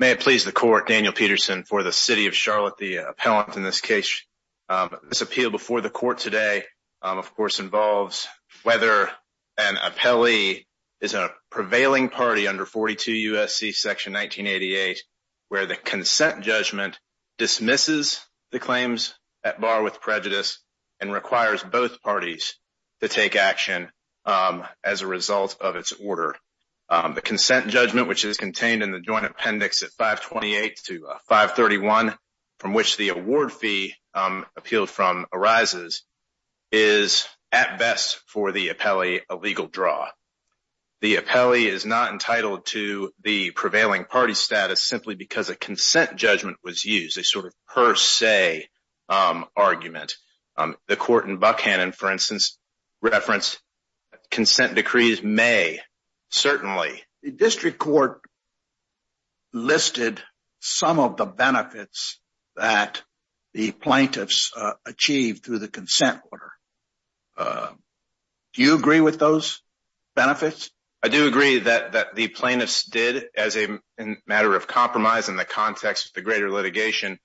May it please the Court, Daniel Peterson, for the City of Charlotte, the appellant in this case. This appeal before the Court today, of course, involves whether an appellee is a prevailing party under 42 U.S.C. section 1988, where the consent judgment dismisses the claims at bar with prejudice and requires both parties to take action as a result of its order. The consent judgment, which is contained in the Joint Appendix at 528 to 531, from which the award fee appealed from arises, is at best for the appellee a legal draw. The appellee is not entitled to the prevailing party status simply because a consent judgment was used, a sort of per se argument. The Court in Buckhannon, for instance, referenced consent decrees may, certainly. The District Court listed some of the benefits that the plaintiffs achieved through the consent order. Do you agree with those benefits? I do agree that the plaintiffs did, as a matter of compromise in the context of the greater litigation,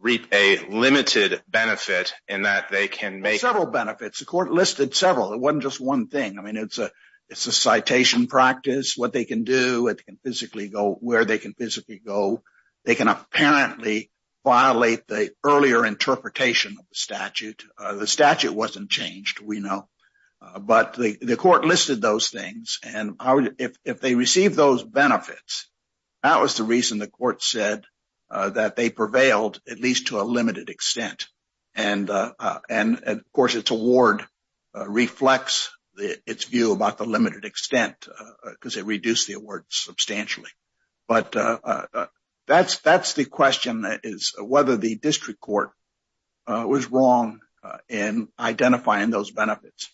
reap a limited benefit in that they can make... Several benefits. The Court listed several. It wasn't just one thing. I mean, it's a citation practice, what they can do, where they can physically go. They can apparently violate the earlier interpretation of the statute. The statute wasn't changed, we know, but the Court listed those things, and if they received those benefits, that was the reason the Court said that they prevailed, at least to a limited extent. And, of course, its award reflects its view about the limited extent because it reduced the award substantially. But that's the question, that is, whether the District Court was wrong in identifying those benefits.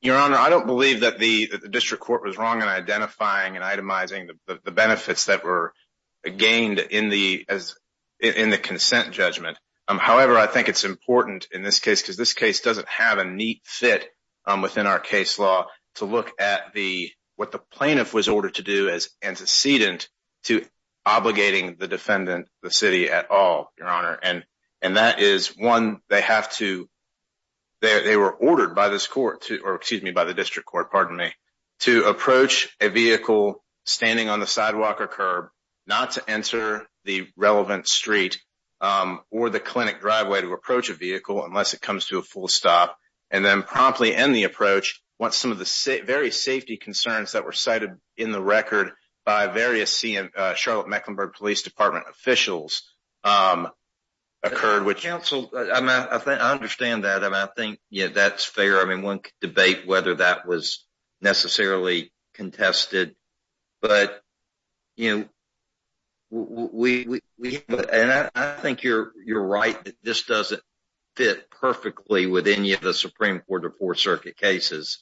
Your Honor, I don't believe that the District Court was wrong in identifying and itemizing the benefits that were gained in the consent judgment. However, I think it's important in this case, because this case doesn't have a neat fit within our case law, to look at what the plaintiff was ordered to do as antecedent to obligating the defendant, the city, at all, Your Honor. And that is, one, they were ordered by the District Court to approach a vehicle standing on the sidewalk or curb, not to enter the relevant street or the clinic driveway to begin the approach once some of the various safety concerns that were cited in the record by various Charlotte-Mecklenburg Police Department officials occurred, which… Counsel, I understand that, and I think, yeah, that's fair, I mean, one could debate whether that was necessarily contested, but, you know, and I think you're right that this doesn't fit perfectly with any of the Supreme Court or Fourth Circuit cases.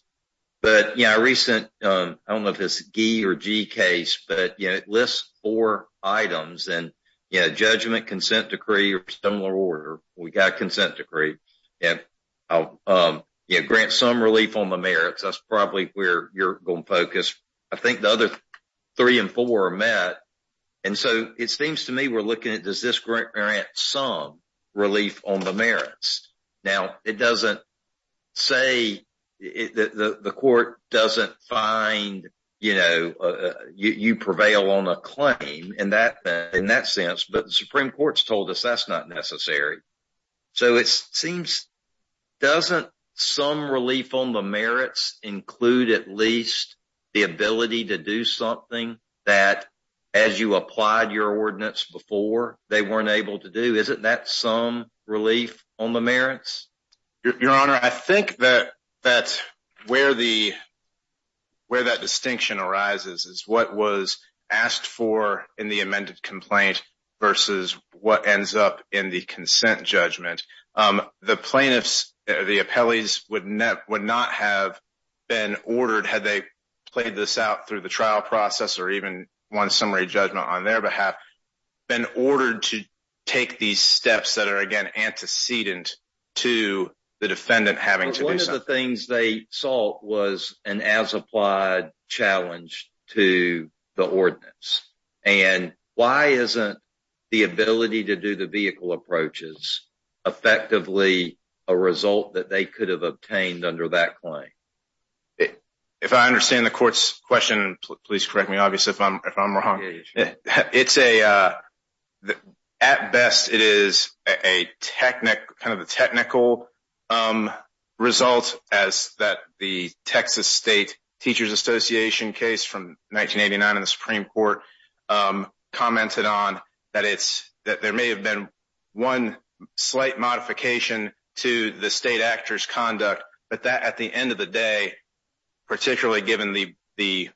But, you know, a recent, I don't know if it's a G or G case, but, you know, it lists four items and, you know, judgment, consent decree, or similar order, we got a consent decree, and grant some relief on the merits, that's probably where you're going to focus. I think the other three and four are met, and so it seems to me we're looking at does this grant some relief on the merits? Now, it doesn't say the court doesn't find, you know, you prevail on a claim in that sense, but the Supreme Court's told us that's not necessary. So it seems, doesn't some relief on the merits include at least the ability to do something that, as you applied your ordinance before, they weren't able to do? Isn't that some relief on the merits? Your Honor, I think that where that distinction arises is what was asked for in the amended complaint versus what ends up in the consent judgment. The plaintiffs, the appellees, would not have been ordered had they played this out through the trial process or even won summary judgment on their behalf, been ordered to take these steps that are, again, antecedent to the defendant having to do something. But one of the things they sought was an as-applied challenge to the ordinance, and why isn't the ability to do the vehicle approaches effectively a result that they could have obtained under that claim? If I understand the court's question, please correct me, obviously, if I'm wrong. At best, it is kind of a technical result, as the Texas State Teachers Association case from 1989 in the Supreme Court commented on, that there may have been one slight modification to the state actor's conduct, but that at the end of the day, particularly given the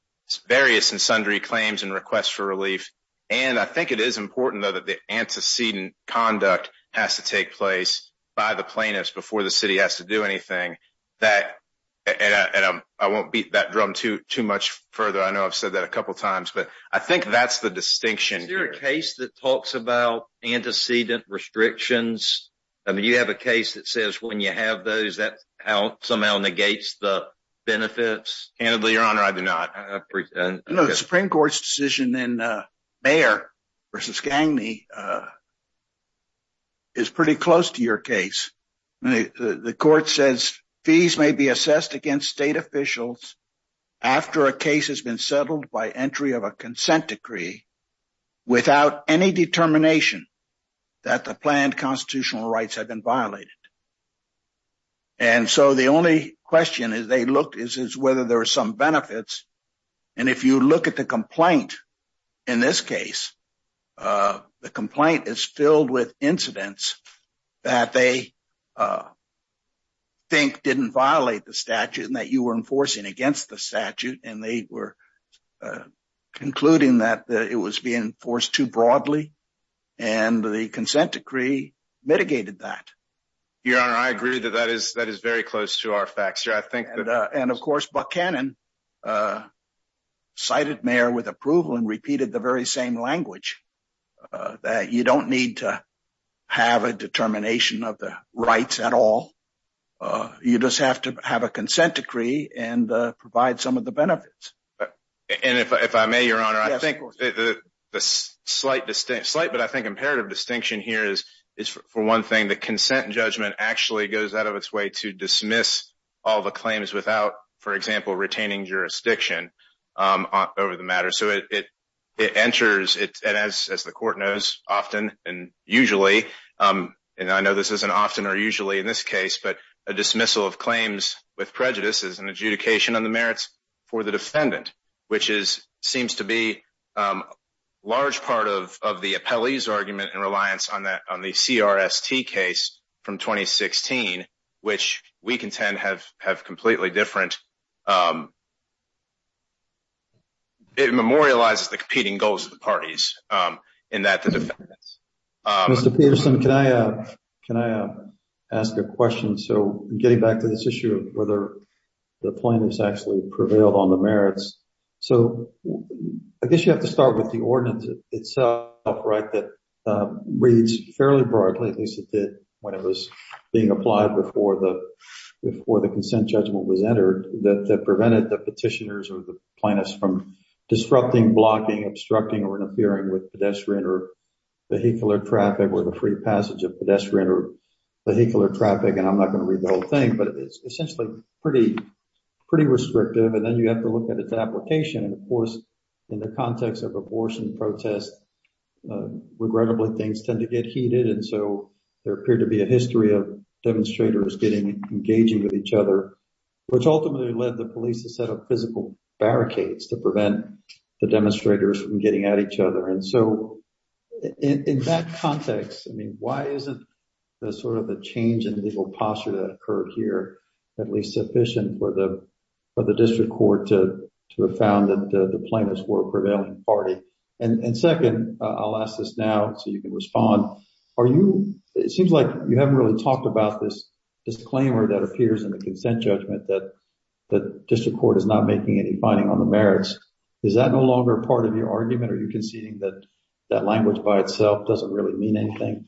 various and sundry claims and requests for relief, and I think it is important, though, that the antecedent conduct has to take place by the plaintiffs before the city has to do anything, and I won't beat that drum too much further. I know I've said that a couple times, but I think that's the distinction here. Is there a case that talks about antecedent restrictions? I mean, you have a case that says when you have those, that somehow negates the benefits? Candidly, Your Honor, I do not. No, the Supreme Court's decision in Mayer v. Gagne is pretty close to your case. The court says fees may be assessed against state officials after a case has been settled by entry of a consent decree without any determination that the planned constitutional rights have been violated, and so the only question is whether there are some benefits, and if you look at the complaint in this case, the complaint is filled with incidents that they think didn't violate the statute and that you were enforcing against the statute and they were concluding that it was being enforced too broadly, and the consent decree mitigated that. Your Honor, I agree that that is very close to our facts. And of course, Buck Cannon cited Mayer with approval and repeated the very same language that you don't need to have a determination of the rights at all, you just have to have a consent decree and provide some of the benefits. And if I may, Your Honor, I think the slight but I think imperative distinction here is for one thing, the consent judgment actually goes out of its way to dismiss all the claims without, for example, retaining jurisdiction over the matter. So it enters, and as the court knows often and usually, and I know this isn't often or with prejudice, is an adjudication on the merits for the defendant, which is, seems to be a large part of the appellee's argument and reliance on the CRST case from 2016, which we contend have completely different, it memorializes the competing goals of the parties in that the defendants. Mr. Peterson, can I ask a question? So getting back to this issue of whether the plaintiff's actually prevailed on the merits. So I guess you have to start with the ordinance itself, right, that reads fairly broadly, at least it did when it was being applied before the consent judgment was entered, that prevented the petitioners or the plaintiffs from disrupting, blocking, obstructing or obstructing vehicular traffic or the free passage of pedestrian or vehicular traffic. And I'm not going to read the whole thing, but it's essentially pretty, pretty restrictive. And then you have to look at its application. And of course, in the context of abortion protest, regrettably, things tend to get heated. And so there appeared to be a history of demonstrators getting engaging with each other, which ultimately led the police to set up physical barricades to prevent the demonstrators from getting at each other. And so in that context, I mean, why isn't the sort of the change in legal posture that occurred here at least sufficient for the district court to have found that the plaintiffs were a prevailing party? And second, I'll ask this now so you can respond. Are you, it seems like you haven't really talked about this disclaimer that appears in the consent judgment that the district court is not making any finding on the merits. Is that no longer part of your argument? Are you conceding that that language by itself doesn't really mean anything?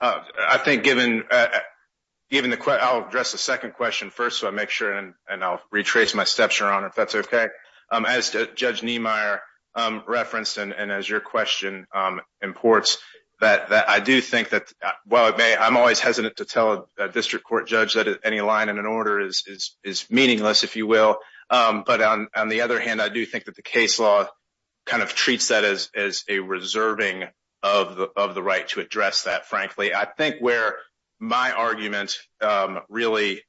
I think given the, I'll address the second question first, so I make sure and I'll retrace my steps, Your Honor, if that's okay. As Judge Niemeyer referenced, and as your question imports, that I do think that while it may, I'm always hesitant to tell a district court judge that any line in an order is meaningless, if you will. But on the other hand, I do think that the case law kind of treats that as a reserving of the right to address that, frankly. I think where my argument really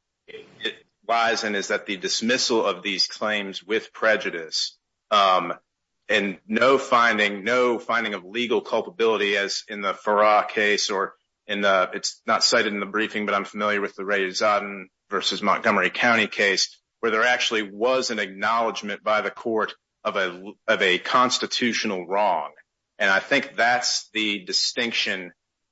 lies in is that the dismissal of these claims with prejudice and no finding, no finding of legal culpability as in the Farrar case or in the, it's not cited in the briefing, but I'm familiar with the Ray Zodden versus Montgomery County case where there actually was an acknowledgment by the court of a constitutional wrong. And I think that's the distinction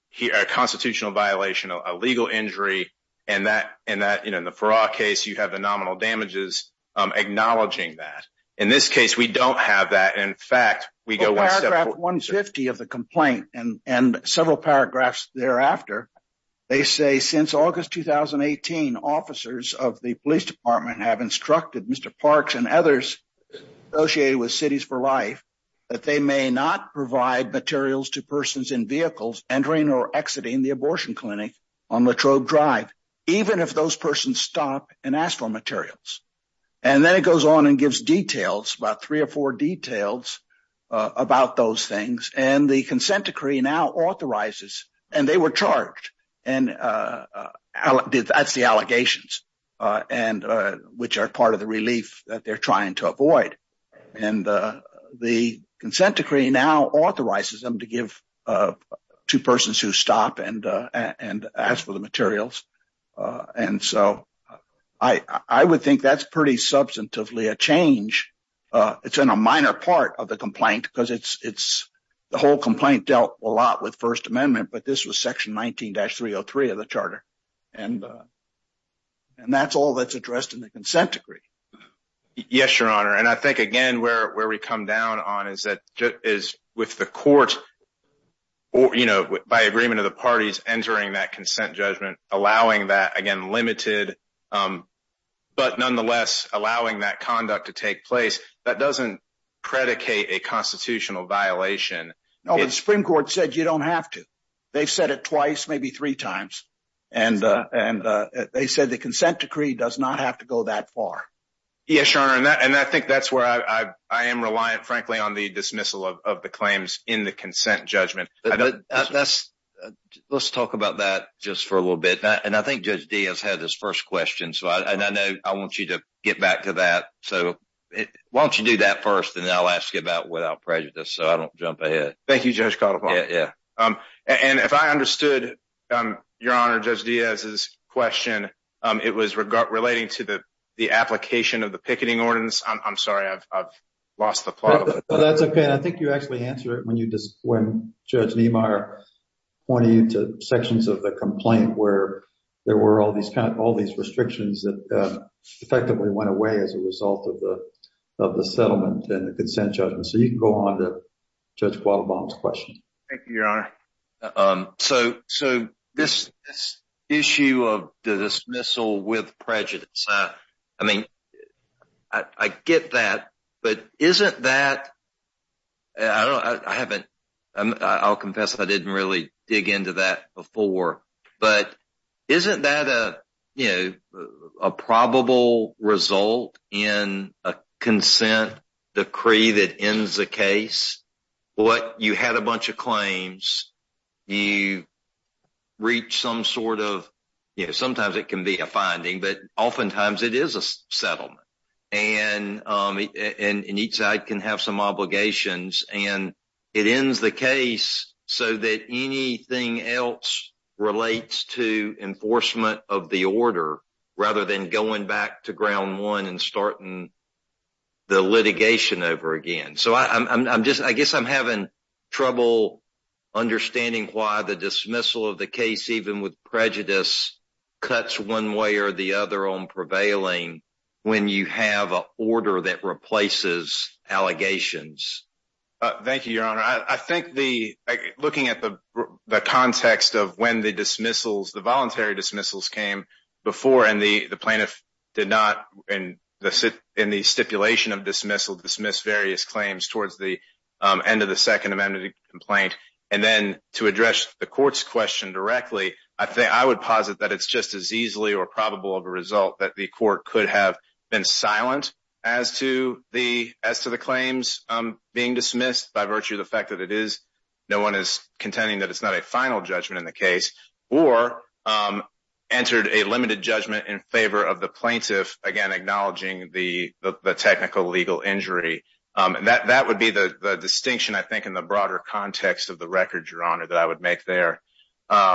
here, a constitutional violation, a legal injury, and that in the Farrar case, you have the nominal damages acknowledging that. In this case, we don't have that. In fact, we go— Paragraph 150 of the complaint and several paragraphs thereafter, they say, since August 2018, officers of the police department have instructed Mr. Parks and others associated with Cities for Life that they may not provide materials to persons in vehicles entering or exiting the abortion clinic on Latrobe Drive, even if those persons stop and ask for materials. And then it goes on and gives details, about three or four details about those things. And the consent decree now authorizes, and they were charged, and that's the allegations which are part of the relief that they're trying to avoid. And the consent decree now authorizes them to give to persons who stop and ask for the materials. And so I would think that's pretty substantively a change. It's in a minor part of the complaint, because the whole complaint dealt a lot with First Amendment, but this was Section 19-303 of the charter. And that's all that's addressed in the consent decree. Yes, Your Honor. And I think, again, where we come down on is with the court, by agreement of the parties entering that consent judgment, allowing that, again, limited, but nonetheless allowing that take place, that doesn't predicate a constitutional violation. No, but the Supreme Court said you don't have to. They've said it twice, maybe three times, and they said the consent decree does not have to go that far. Yes, Your Honor, and I think that's where I am reliant, frankly, on the dismissal of the claims in the consent judgment. Let's talk about that just for a little bit. And I think Judge Diaz had his first question, and I know I want you to get back to that. So, why don't you do that first, and then I'll ask you about it without prejudice, so I don't jump ahead. Thank you, Judge Caldwell. Yeah, yeah. And if I understood, Your Honor, Judge Diaz's question, it was relating to the application of the picketing ordinance. I'm sorry, I've lost the plot. That's okay, and I think you actually answered it when Judge Niemeyer pointed you to sections of the complaint where there were all these restrictions that effectively went away as a result of the settlement and the consent judgment. So, you can go on to Judge Guadalbano's question. Thank you, Your Honor. So, this issue of the dismissal with prejudice, I mean, I get that, but isn't that, I don't know, I haven't, I'll confess I didn't really dig into that before, but isn't that a, you know, in a consent decree that ends the case, what you had a bunch of claims, you reach some sort of, you know, sometimes it can be a finding, but oftentimes it is a settlement, and each side can have some obligations, and it ends the case so that anything else relates to enforcement of the order rather than going back to ground one and starting the litigation over again. So, I'm just, I guess I'm having trouble understanding why the dismissal of the case, even with prejudice, cuts one way or the other on prevailing when you have an order that replaces allegations. Thank you, Your Honor. I think the, looking at the context of when the dismissals, the voluntary dismissals came before, and the plaintiff did not, in the stipulation of dismissal, dismiss various claims towards the end of the Second Amendment complaint, and then to address the court's question directly, I think, I would posit that it's just as easily or probable of a being dismissed by virtue of the fact that it is, no one is contending that it's not a final judgment in the case, or entered a limited judgment in favor of the plaintiff, again, acknowledging the technical legal injury. That would be the distinction, I think, in the broader context of the record, Your Honor, that I would make there. And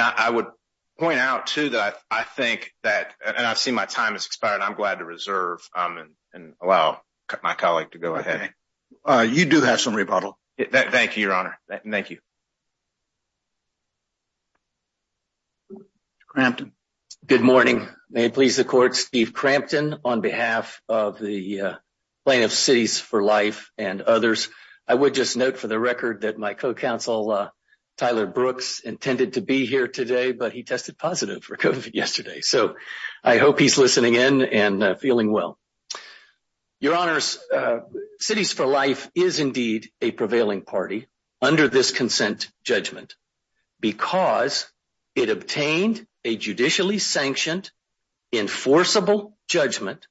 I would point out, too, that I think that, and I've seen my time has expired, I'm glad to reserve and allow my colleague to go ahead. You do have some rebuttal. Thank you, Your Honor. Thank you. Crampton. Good morning. May it please the court, Steve Crampton on behalf of the Plaintiff's Cities for Life and others. I would just note for the record that my co-counsel, Tyler Brooks, intended to be here today, but he tested positive for COVID yesterday. So I hope he's listening in and feeling well. Your Honors, Cities for Life is indeed a prevailing party under this consent judgment because it obtained a judicially sanctioned, enforceable judgment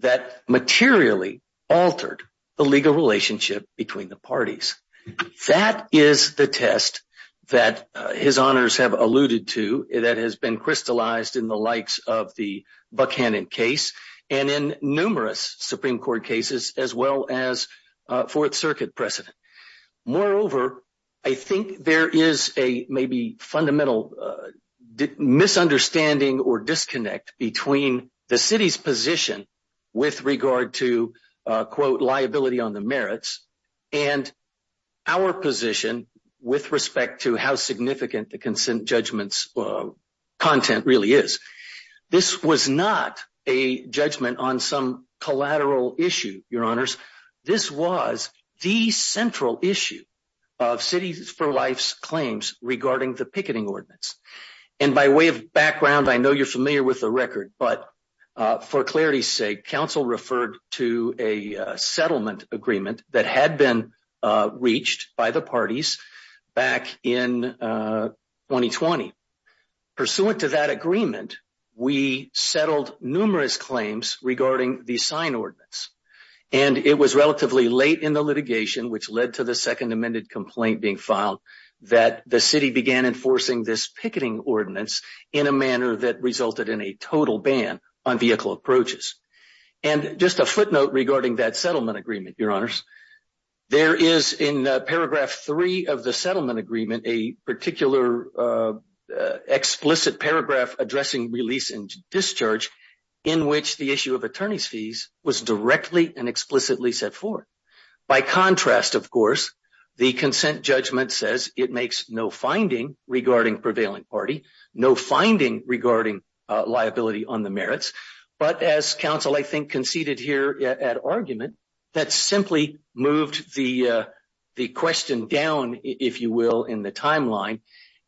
that materially altered the legal relationship between the parties. That is the test that His Honors have alluded to that has been crystallized in the likes of the Buchanan case and in numerous Supreme Court cases, as well as Fourth Circuit precedent. Moreover, I think there is a maybe fundamental misunderstanding or disconnect between the our position with respect to how significant the consent judgment's content really is. This was not a judgment on some collateral issue, Your Honors. This was the central issue of Cities for Life's claims regarding the picketing ordinance. And by way of background, I know you're familiar with the record, but for clarity's sake, counsel referred to a settlement agreement that had been reached by the parties back Pursuant to that agreement, we settled numerous claims regarding the sign ordinance. And it was relatively late in the litigation, which led to the second amended complaint being filed, that the city began enforcing this picketing ordinance in a manner that resulted in a total ban on vehicle approaches. And just a footnote regarding that settlement agreement, Your Honors, there is in paragraph three of the settlement agreement a particular explicit paragraph addressing release and discharge in which the issue of attorney's fees was directly and explicitly set forth. By contrast, of course, the consent judgment says it makes no finding regarding prevailing party, no finding regarding liability on the merits. But as counsel, I think, conceded here at argument, that simply moved the question down, if you will, in the timeline.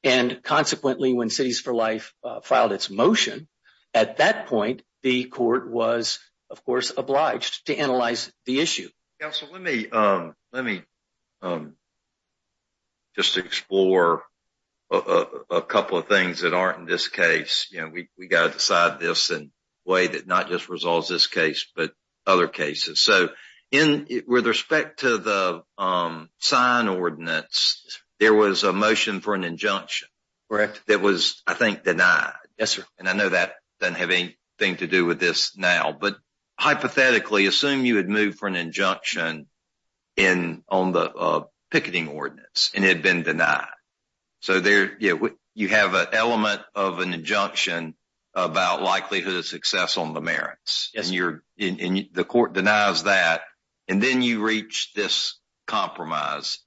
And consequently, when Cities for Life filed its motion at that point, the court was, of course, obliged to analyze the issue. Counsel, let me just explore a couple of things that aren't in this case. We got to decide this in a way that not just resolves this case, but other cases. So with respect to the sign ordinance, there was a motion for an injunction. That was, I think, denied. Yes, sir. And I know that doesn't have anything to do with this now. But hypothetically, assume you had moved for an injunction on the picketing ordinance and it had been denied. So you have an element of an injunction about likelihood of success on the merits. Yes, sir. And the court denies that. And then you reach this compromise,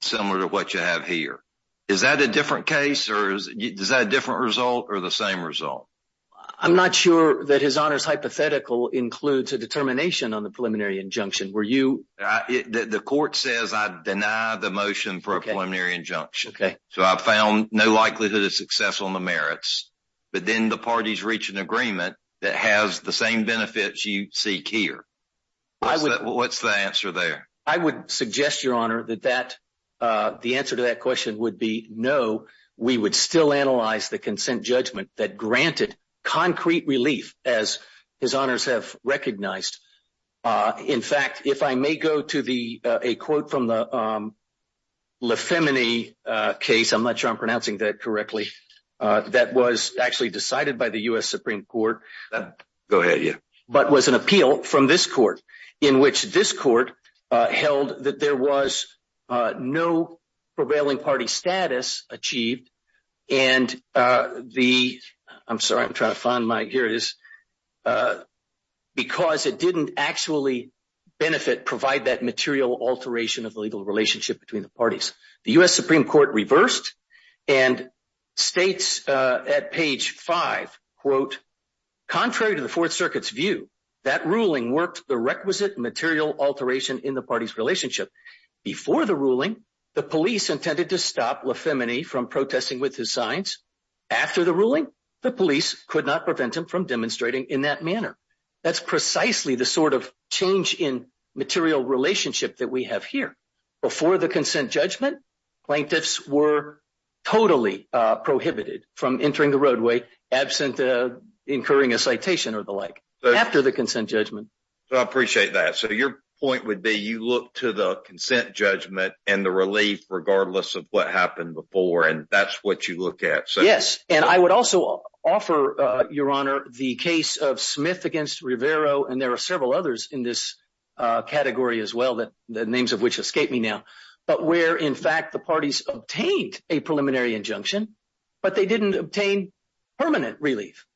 similar to what you have here. Is that a different case? Or is that a different result or the same result? I'm not sure that His Honor's hypothetical includes a determination on the preliminary injunction. Were you— The court says I deny the motion for a preliminary injunction. So I found no likelihood of success on the merits. But then the parties reach an agreement that has the same benefits you seek here. What's the answer there? I would suggest, Your Honor, that the answer to that question would be no. We would still analyze the consent judgment that granted concrete relief, as His Honors have recognized. In fact, if I may go to a quote from the Le Femini case—I'm not sure I'm pronouncing that correctly—that was actually decided by the U.S. Supreme Court. Go ahead, yeah. But was an appeal from this court, in which this court held that there was no prevailing party status achieved. And the—I'm sorry, I'm trying to find my gears—because it didn't actually benefit, provide that material alteration of the legal relationship between the parties. The U.S. Supreme Court reversed and states at page 5, quote, contrary to the Fourth Circuit's view, that ruling worked the requisite material alteration in the party's relationship. Before the ruling, the police intended to stop Le Femini from protesting with his signs. After the ruling, the police could not prevent him from demonstrating in that manner. That's precisely the sort of change in material relationship that we have here. Before the consent judgment, plaintiffs were totally prohibited from entering the roadway absent of incurring a citation or the like. After the consent judgment. I appreciate that. So your point would be you look to the consent judgment and the relief regardless of what happened before, and that's what you look at. Yes. And I would also offer, Your Honor, the case of Smith v. Rivero—and there are several others in this category as well, the names of which escape me now—but where, in fact, the parties obtained a preliminary injunction, but they didn't obtain permanent relief.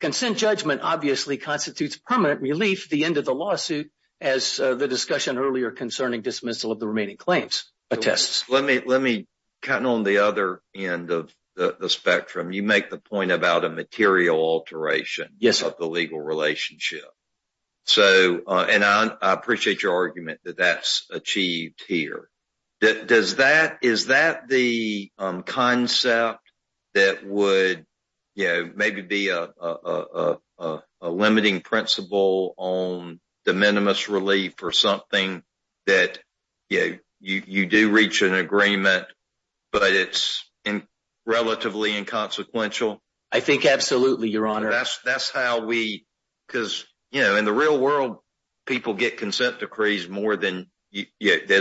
Consent judgment obviously constitutes permanent relief at the end of the lawsuit, as the discussion earlier concerning dismissal of the remaining claims attests. Let me, kind of on the other end of the spectrum, you make the point about a material alteration of the legal relationship. And I appreciate your argument that that's achieved here. Does that—is that the concept that would, you know, maybe be a limiting principle on de minimis relief or something that, you know, you do reach an agreement, but it's relatively inconsequential? I think absolutely, Your Honor. That's how we—because, you know, in the real world, people get consent decrees more that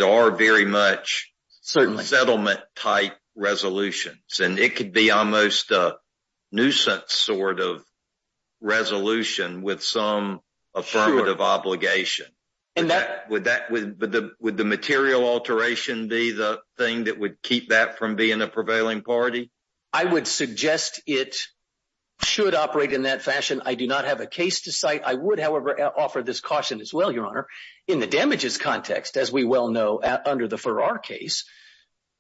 are very much settlement-type resolutions. And it could be almost a nuisance sort of resolution with some affirmative obligation. Would that—would the material alteration be the thing that would keep that from being a prevailing party? I would suggest it should operate in that fashion. I do not have a case to cite. I would, however, offer this caution as well, Your Honor. In the damages context, as we well know under the Farrar case,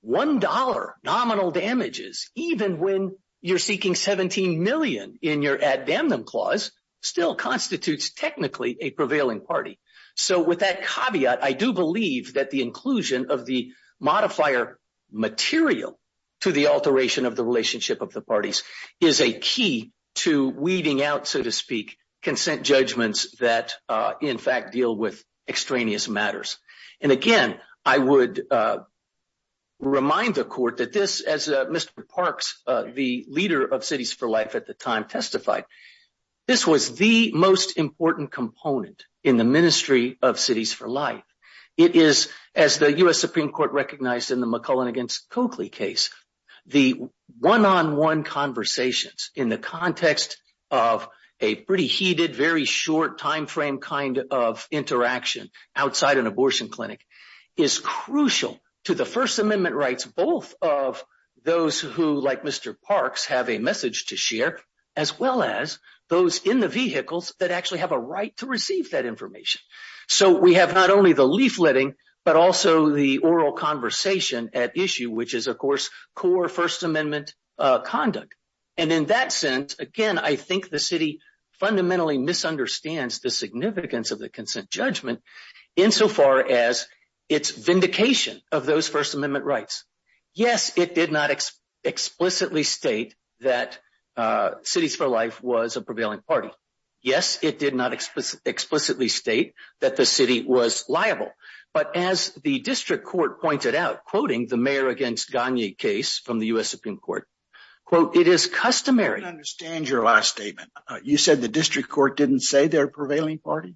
$1 nominal damages, even when you're seeking $17 million in your ad damnum clause, still constitutes technically a prevailing party. So with that caveat, I do believe that the inclusion of the modifier material to the alteration of the relationship of the parties is a key to weeding out, so to speak, consent judgments that, in fact, deal with extraneous matters. And again, I would remind the Court that this, as Mr. Parks, the leader of Cities for Life at the time, testified, this was the most important component in the ministry of Cities for Life. It is, as the U.S. Supreme Court recognized in the McClellan v. Coakley case, the one-on-one conversations in the context of a pretty heated, very short timeframe kind of interaction outside an abortion clinic is crucial to the First Amendment rights both of those who, like Mr. Parks, have a message to share as well as those in the vehicles that actually have a right to receive that information. So we have not only the leafletting but also the oral conversation at issue, which is, of course, core First Amendment conduct. And in that sense, again, I think the City fundamentally misunderstands the significance of the consent judgment insofar as its vindication of those First Amendment rights. Yes, it did not explicitly state that Cities for Life was a prevailing party. Yes, it did not explicitly state that the City was liable. But as the district court pointed out, quoting the Mayor v. Gagne case from the U.S. Supreme Court, it is customary— I don't understand your last statement. You said the district court didn't say they're a prevailing party?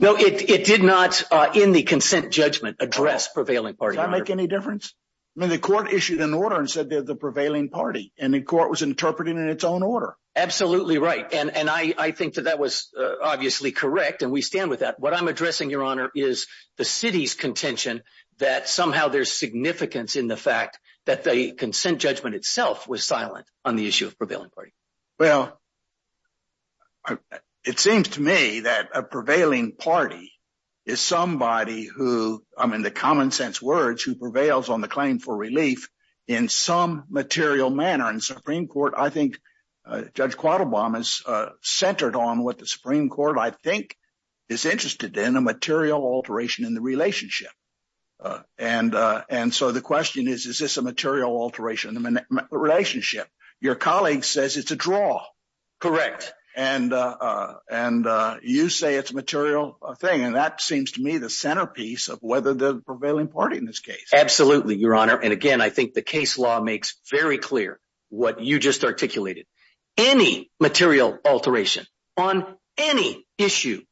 No, it did not, in the consent judgment, address prevailing party. Does that make any difference? I mean, the court issued an order and said they're the prevailing party. And the court was interpreting it in its own order. Absolutely right. And I think that that was obviously correct. And we stand with that. What I'm addressing, Your Honor, is the City's contention that somehow there's significance in the fact that the consent judgment itself was silent on the issue of prevailing party. Well, it seems to me that a prevailing party is somebody who, I mean, the common sense words, who prevails on the claim for relief in some material manner. And the Supreme Court, I think, Judge Quattlebaum is centered on what the Supreme Court, I think, is interested in, a material alteration in the relationship. And so the question is, is this a material alteration in the relationship? Your colleague says it's a draw. Correct. And you say it's a material thing. And that seems to me the centerpiece of whether the prevailing party in this case. Absolutely, Your Honor. And again, I think the case law makes very clear what you just articulated. Any material alteration on any issue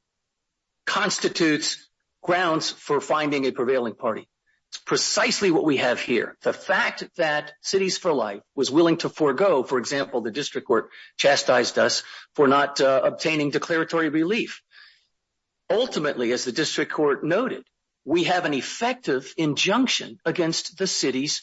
constitutes grounds for finding a prevailing party. It's precisely what we have here. The fact that Cities for Life was willing to forego, for example, the District Court chastised us for not obtaining declaratory relief. Ultimately, as the District Court noted, we have an effective injunction against the City's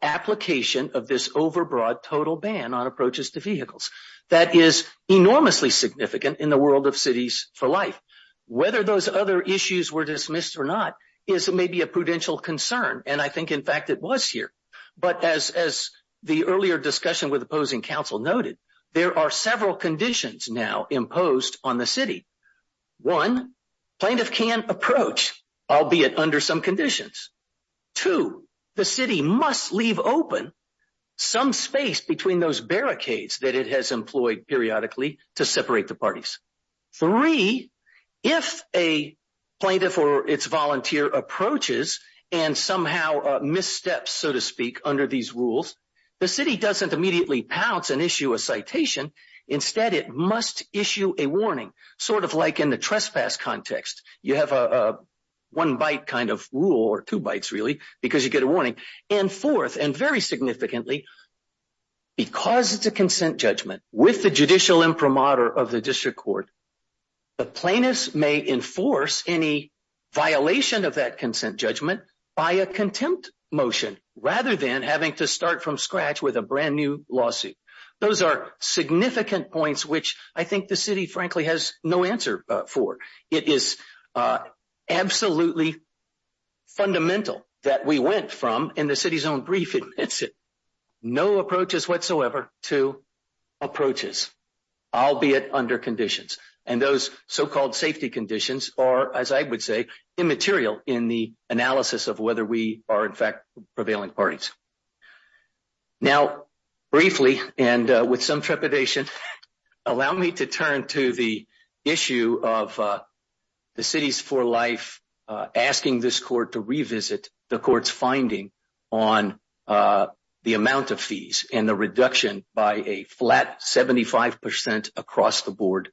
application of this overbroad total ban on approaches to vehicles. That is enormously significant in the world of Cities for Life. Whether those other issues were dismissed or not is maybe a prudential concern. And I think, in fact, it was here. But as the earlier discussion with opposing counsel noted, there are several conditions now imposed on the City. One, plaintiff can approach, albeit under some conditions. Two, the City must leave open some space between those barricades that it has employed periodically to separate the parties. Three, if a plaintiff or its volunteer approaches and somehow missteps, so to speak, under these rules, the City doesn't immediately pounce and issue a citation. Instead, it must issue a warning, sort of like in the trespass context. You have a one-bite kind of rule, or two bites, really, because you get a warning. And fourth, and very significantly, because it's a consent judgment with the judicial imprimatur of the District Court, the plaintiff may enforce any violation of that consent judgment by a contempt motion, rather than having to start from scratch with a brand new lawsuit. Those are significant points which I think the City, frankly, has no answer for. It is absolutely fundamental that we went from, in the City's own brief, no approaches whatsoever, to approaches, albeit under conditions. And those so-called safety conditions are, as I would say, immaterial in the analysis of whether we are, in fact, prevailing parties. Now, briefly, and with some trepidation, allow me to turn to the issue of the City's For Life asking this Court to revisit the Court's finding on the amount of fees and the reduction by a flat 75 percent across the board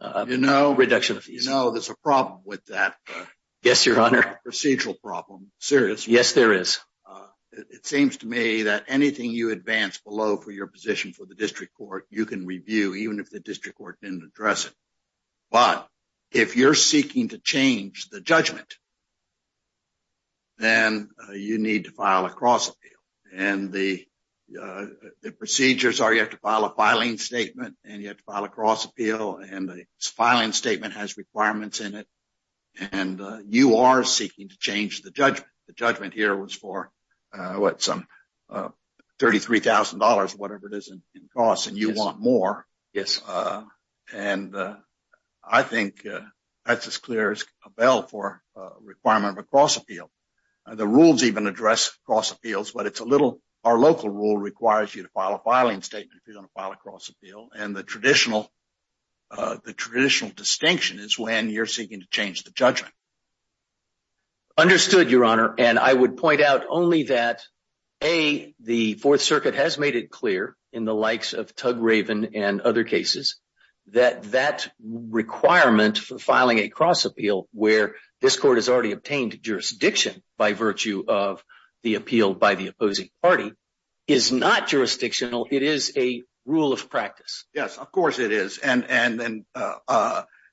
reduction of fees. You know, there's a problem with that. Yes, Your Honor. Procedural problem. Serious. Yes, there is. It seems to me that anything you advance below for your position for the District Court, you can review, even if the District Court didn't address it. But if you're seeking to change the judgment, then you need to file a cross-appeal. And the procedures are you have to file a filing statement, and you have to file a cross-appeal, and the filing statement has requirements in it, and you are seeking to change the judgment. The judgment here was for, what, some $33,000, whatever it is in costs, and you want more. And I think that's as clear as a bell for a requirement of a cross-appeal. The rules even address cross-appeals, but it's a little—our local rule requires you to file a filing statement if you're going to file a cross-appeal. And the traditional distinction is when you're seeking to change the judgment. Understood, Your Honor. And I would point out only that, A, the Fourth Circuit has made it clear, in the likes of Tugraven and other cases, that that requirement for filing a cross-appeal, where this Court has already obtained jurisdiction by virtue of the appeal by the opposing party, is not jurisdictional. It is a rule of practice. Yes, of course it is. And then,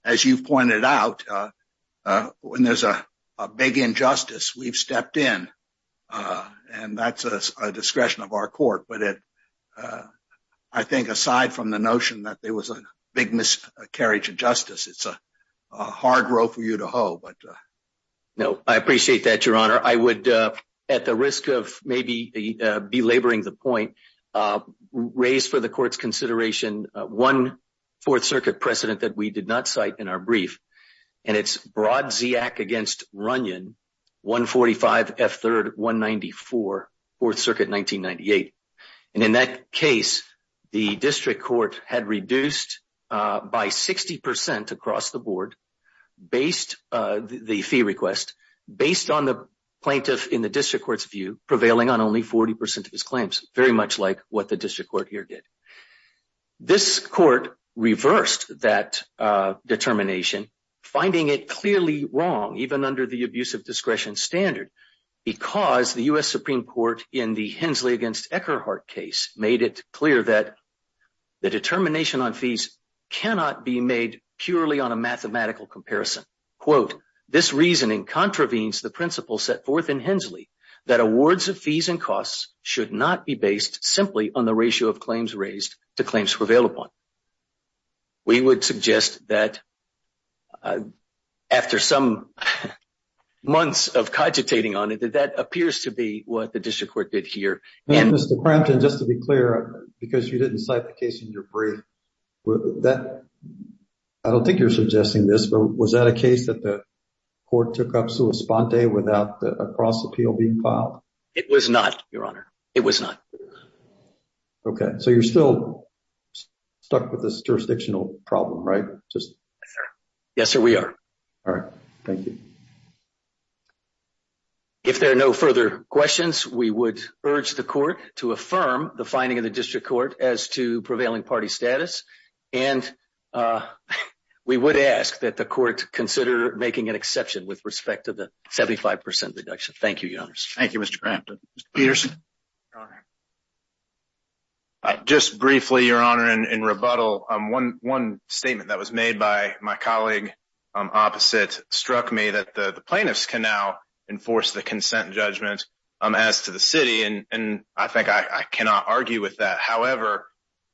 as you've pointed out, when there's a big injustice, we've stepped in, and that's a discretion of our Court. But I think, aside from the notion that there was a big miscarriage of justice, it's a hard row for you to hoe. No, I appreciate that, Your Honor. I would, at the risk of maybe belaboring the point, raise for the Court's consideration one Fourth Circuit precedent that we did not cite in our brief. And it's Brodziak v. Runyon, 145 F. 3rd, 194, Fourth Circuit, 1998. And in that case, the District Court had reduced by 60 percent across the board the fee request, based on the plaintiff, in the District Court's view, prevailing on only 40 percent of his claims. Very much like what the District Court here did. This Court reversed that determination, finding it clearly wrong, even under the abusive discretion standard, because the U.S. Supreme Court, in the Hensley v. Eckerhart case, made it clear that the determination on fees cannot be made purely on a mathematical comparison. This reasoning contravenes the principle set forth in Hensley that awards of fees and costs should not be based simply on the ratio of claims raised to claims prevailed upon. We would suggest that, after some months of cogitating on it, that that appears to be what the District Court did here. Now, Mr. Crampton, just to be clear, because you didn't cite the case in your brief, I don't think you're suggesting this, but was that a case that the It was not, Your Honor. It was not. Okay. So you're still stuck with this jurisdictional problem, right? Yes, sir, we are. All right. Thank you. If there are no further questions, we would urge the Court to affirm the finding of the District Court as to prevailing party status, and we would ask that the Court consider making an exception with respect to the 75 percent deduction. Thank you, Your Honor. Thank you, Mr. Crampton. Mr. Peterson. Just briefly, Your Honor, in rebuttal, one statement that was made by my colleague opposite struck me that the plaintiffs can now enforce the consent judgment as to the city, and I think I cannot argue with that. However,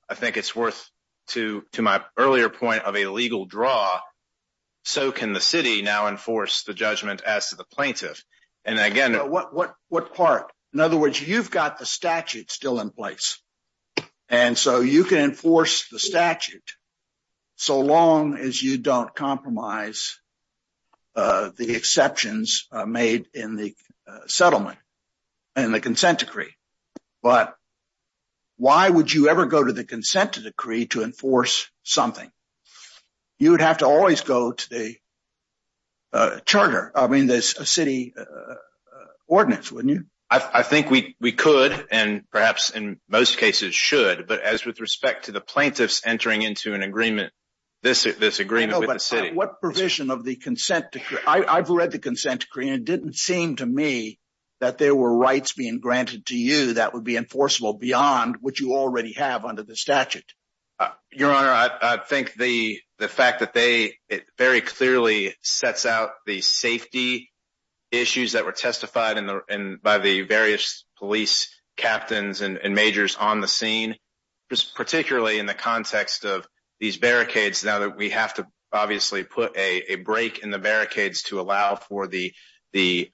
I think it's worth, to my earlier point of a legal draw, so can the city now enforce the judgment as to the plaintiff. And again— What part? In other words, you've got the statute still in place, and so you can enforce the statute so long as you don't compromise the exceptions made in the settlement and the consent decree. But why would you ever go to the consent decree to enforce something? You would have to always go to the charter—I mean, the city ordinance, wouldn't you? I think we could, and perhaps in most cases should, but as with respect to the plaintiffs entering into an agreement, this agreement with the city— But what provision of the consent decree? I've read the consent decree, and it didn't seem to me that there were rights being granted to you that would be enforceable beyond what you already have under the statute. Your Honor, I think the fact that they—it very clearly sets out the safety issues that were testified by the various police captains and majors on the scene, particularly in the context of these barricades, now that we have to obviously put a break in the barricades to allow for the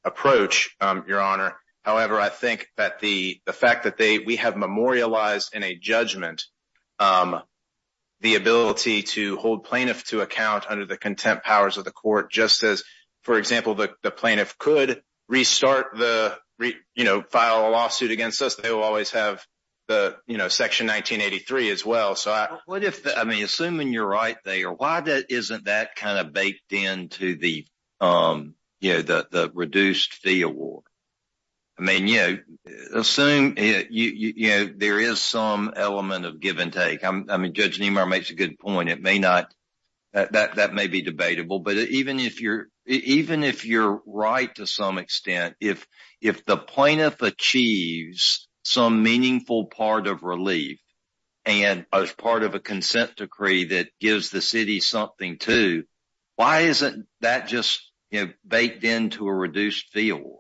approach, Your Honor. However, I think that the fact that we have in a judgment the ability to hold plaintiffs to account under the contempt powers of the court, just as, for example, the plaintiff could restart the—you know, file a lawsuit against us, they will always have the, you know, Section 1983 as well. But what if—I mean, assuming you're right there, why isn't that kind of baked into the you know, the reduced fee award? I mean, you know, assume, you know, there is some element of give and take. I mean, Judge Nemar makes a good point. It may not—that may be debatable. But even if you're—even if you're right to some extent, if the plaintiff achieves some meaningful part of relief and as part of a consent decree that gives the city something too, why isn't that just, you know, baked into a reduced fee award?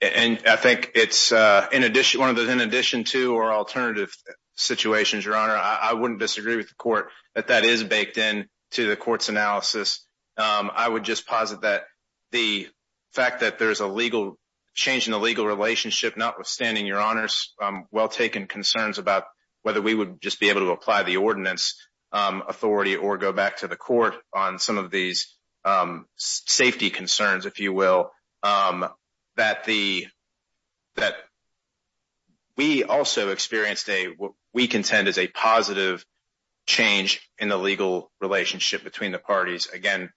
And I think it's in addition—one of the—in addition to or alternative situations, Your Honor, I wouldn't disagree with the court that that is baked into the court's analysis. I would just posit that the fact that there's a legal—change in the legal relationship, notwithstanding, Your Honor's well-taken concerns about whether we would just able to apply the ordinance authority or go back to the court on some of these safety concerns, if you will, that the—that we also experienced a—what we contend is a positive change in the legal relationship between the parties. Again,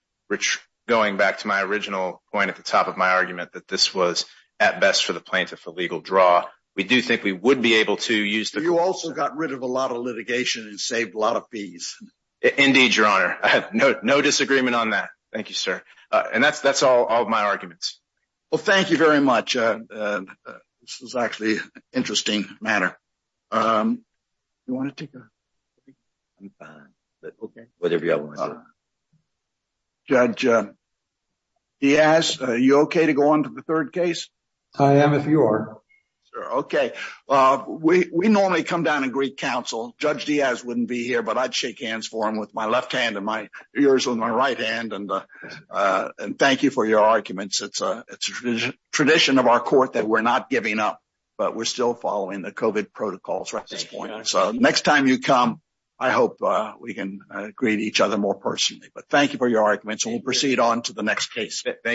going back to my original point at the top of my argument, that this was at best for the plaintiff a legal draw. We do think we would be able to use the— You also got rid of a lot of litigation and saved a lot of fees. Indeed, Your Honor. I have no disagreement on that. Thank you, sir. And that's all of my arguments. Well, thank you very much. This was actually an interesting matter. You want to take a— Judge Diaz, are you okay to go on to the third case? I am, if you are. Okay. We normally come down and greet counsel. Judge Diaz wouldn't be here, but I'd shake hands for him with my left hand and yours with my right hand. And thank you for your arguments. It's a tradition of our court that we're not giving up, but we're still following the COVID protocols right at this point. So next time you come, I hope we can greet each other more personally. But thank you for your arguments. We'll proceed on to the next case. Thank you.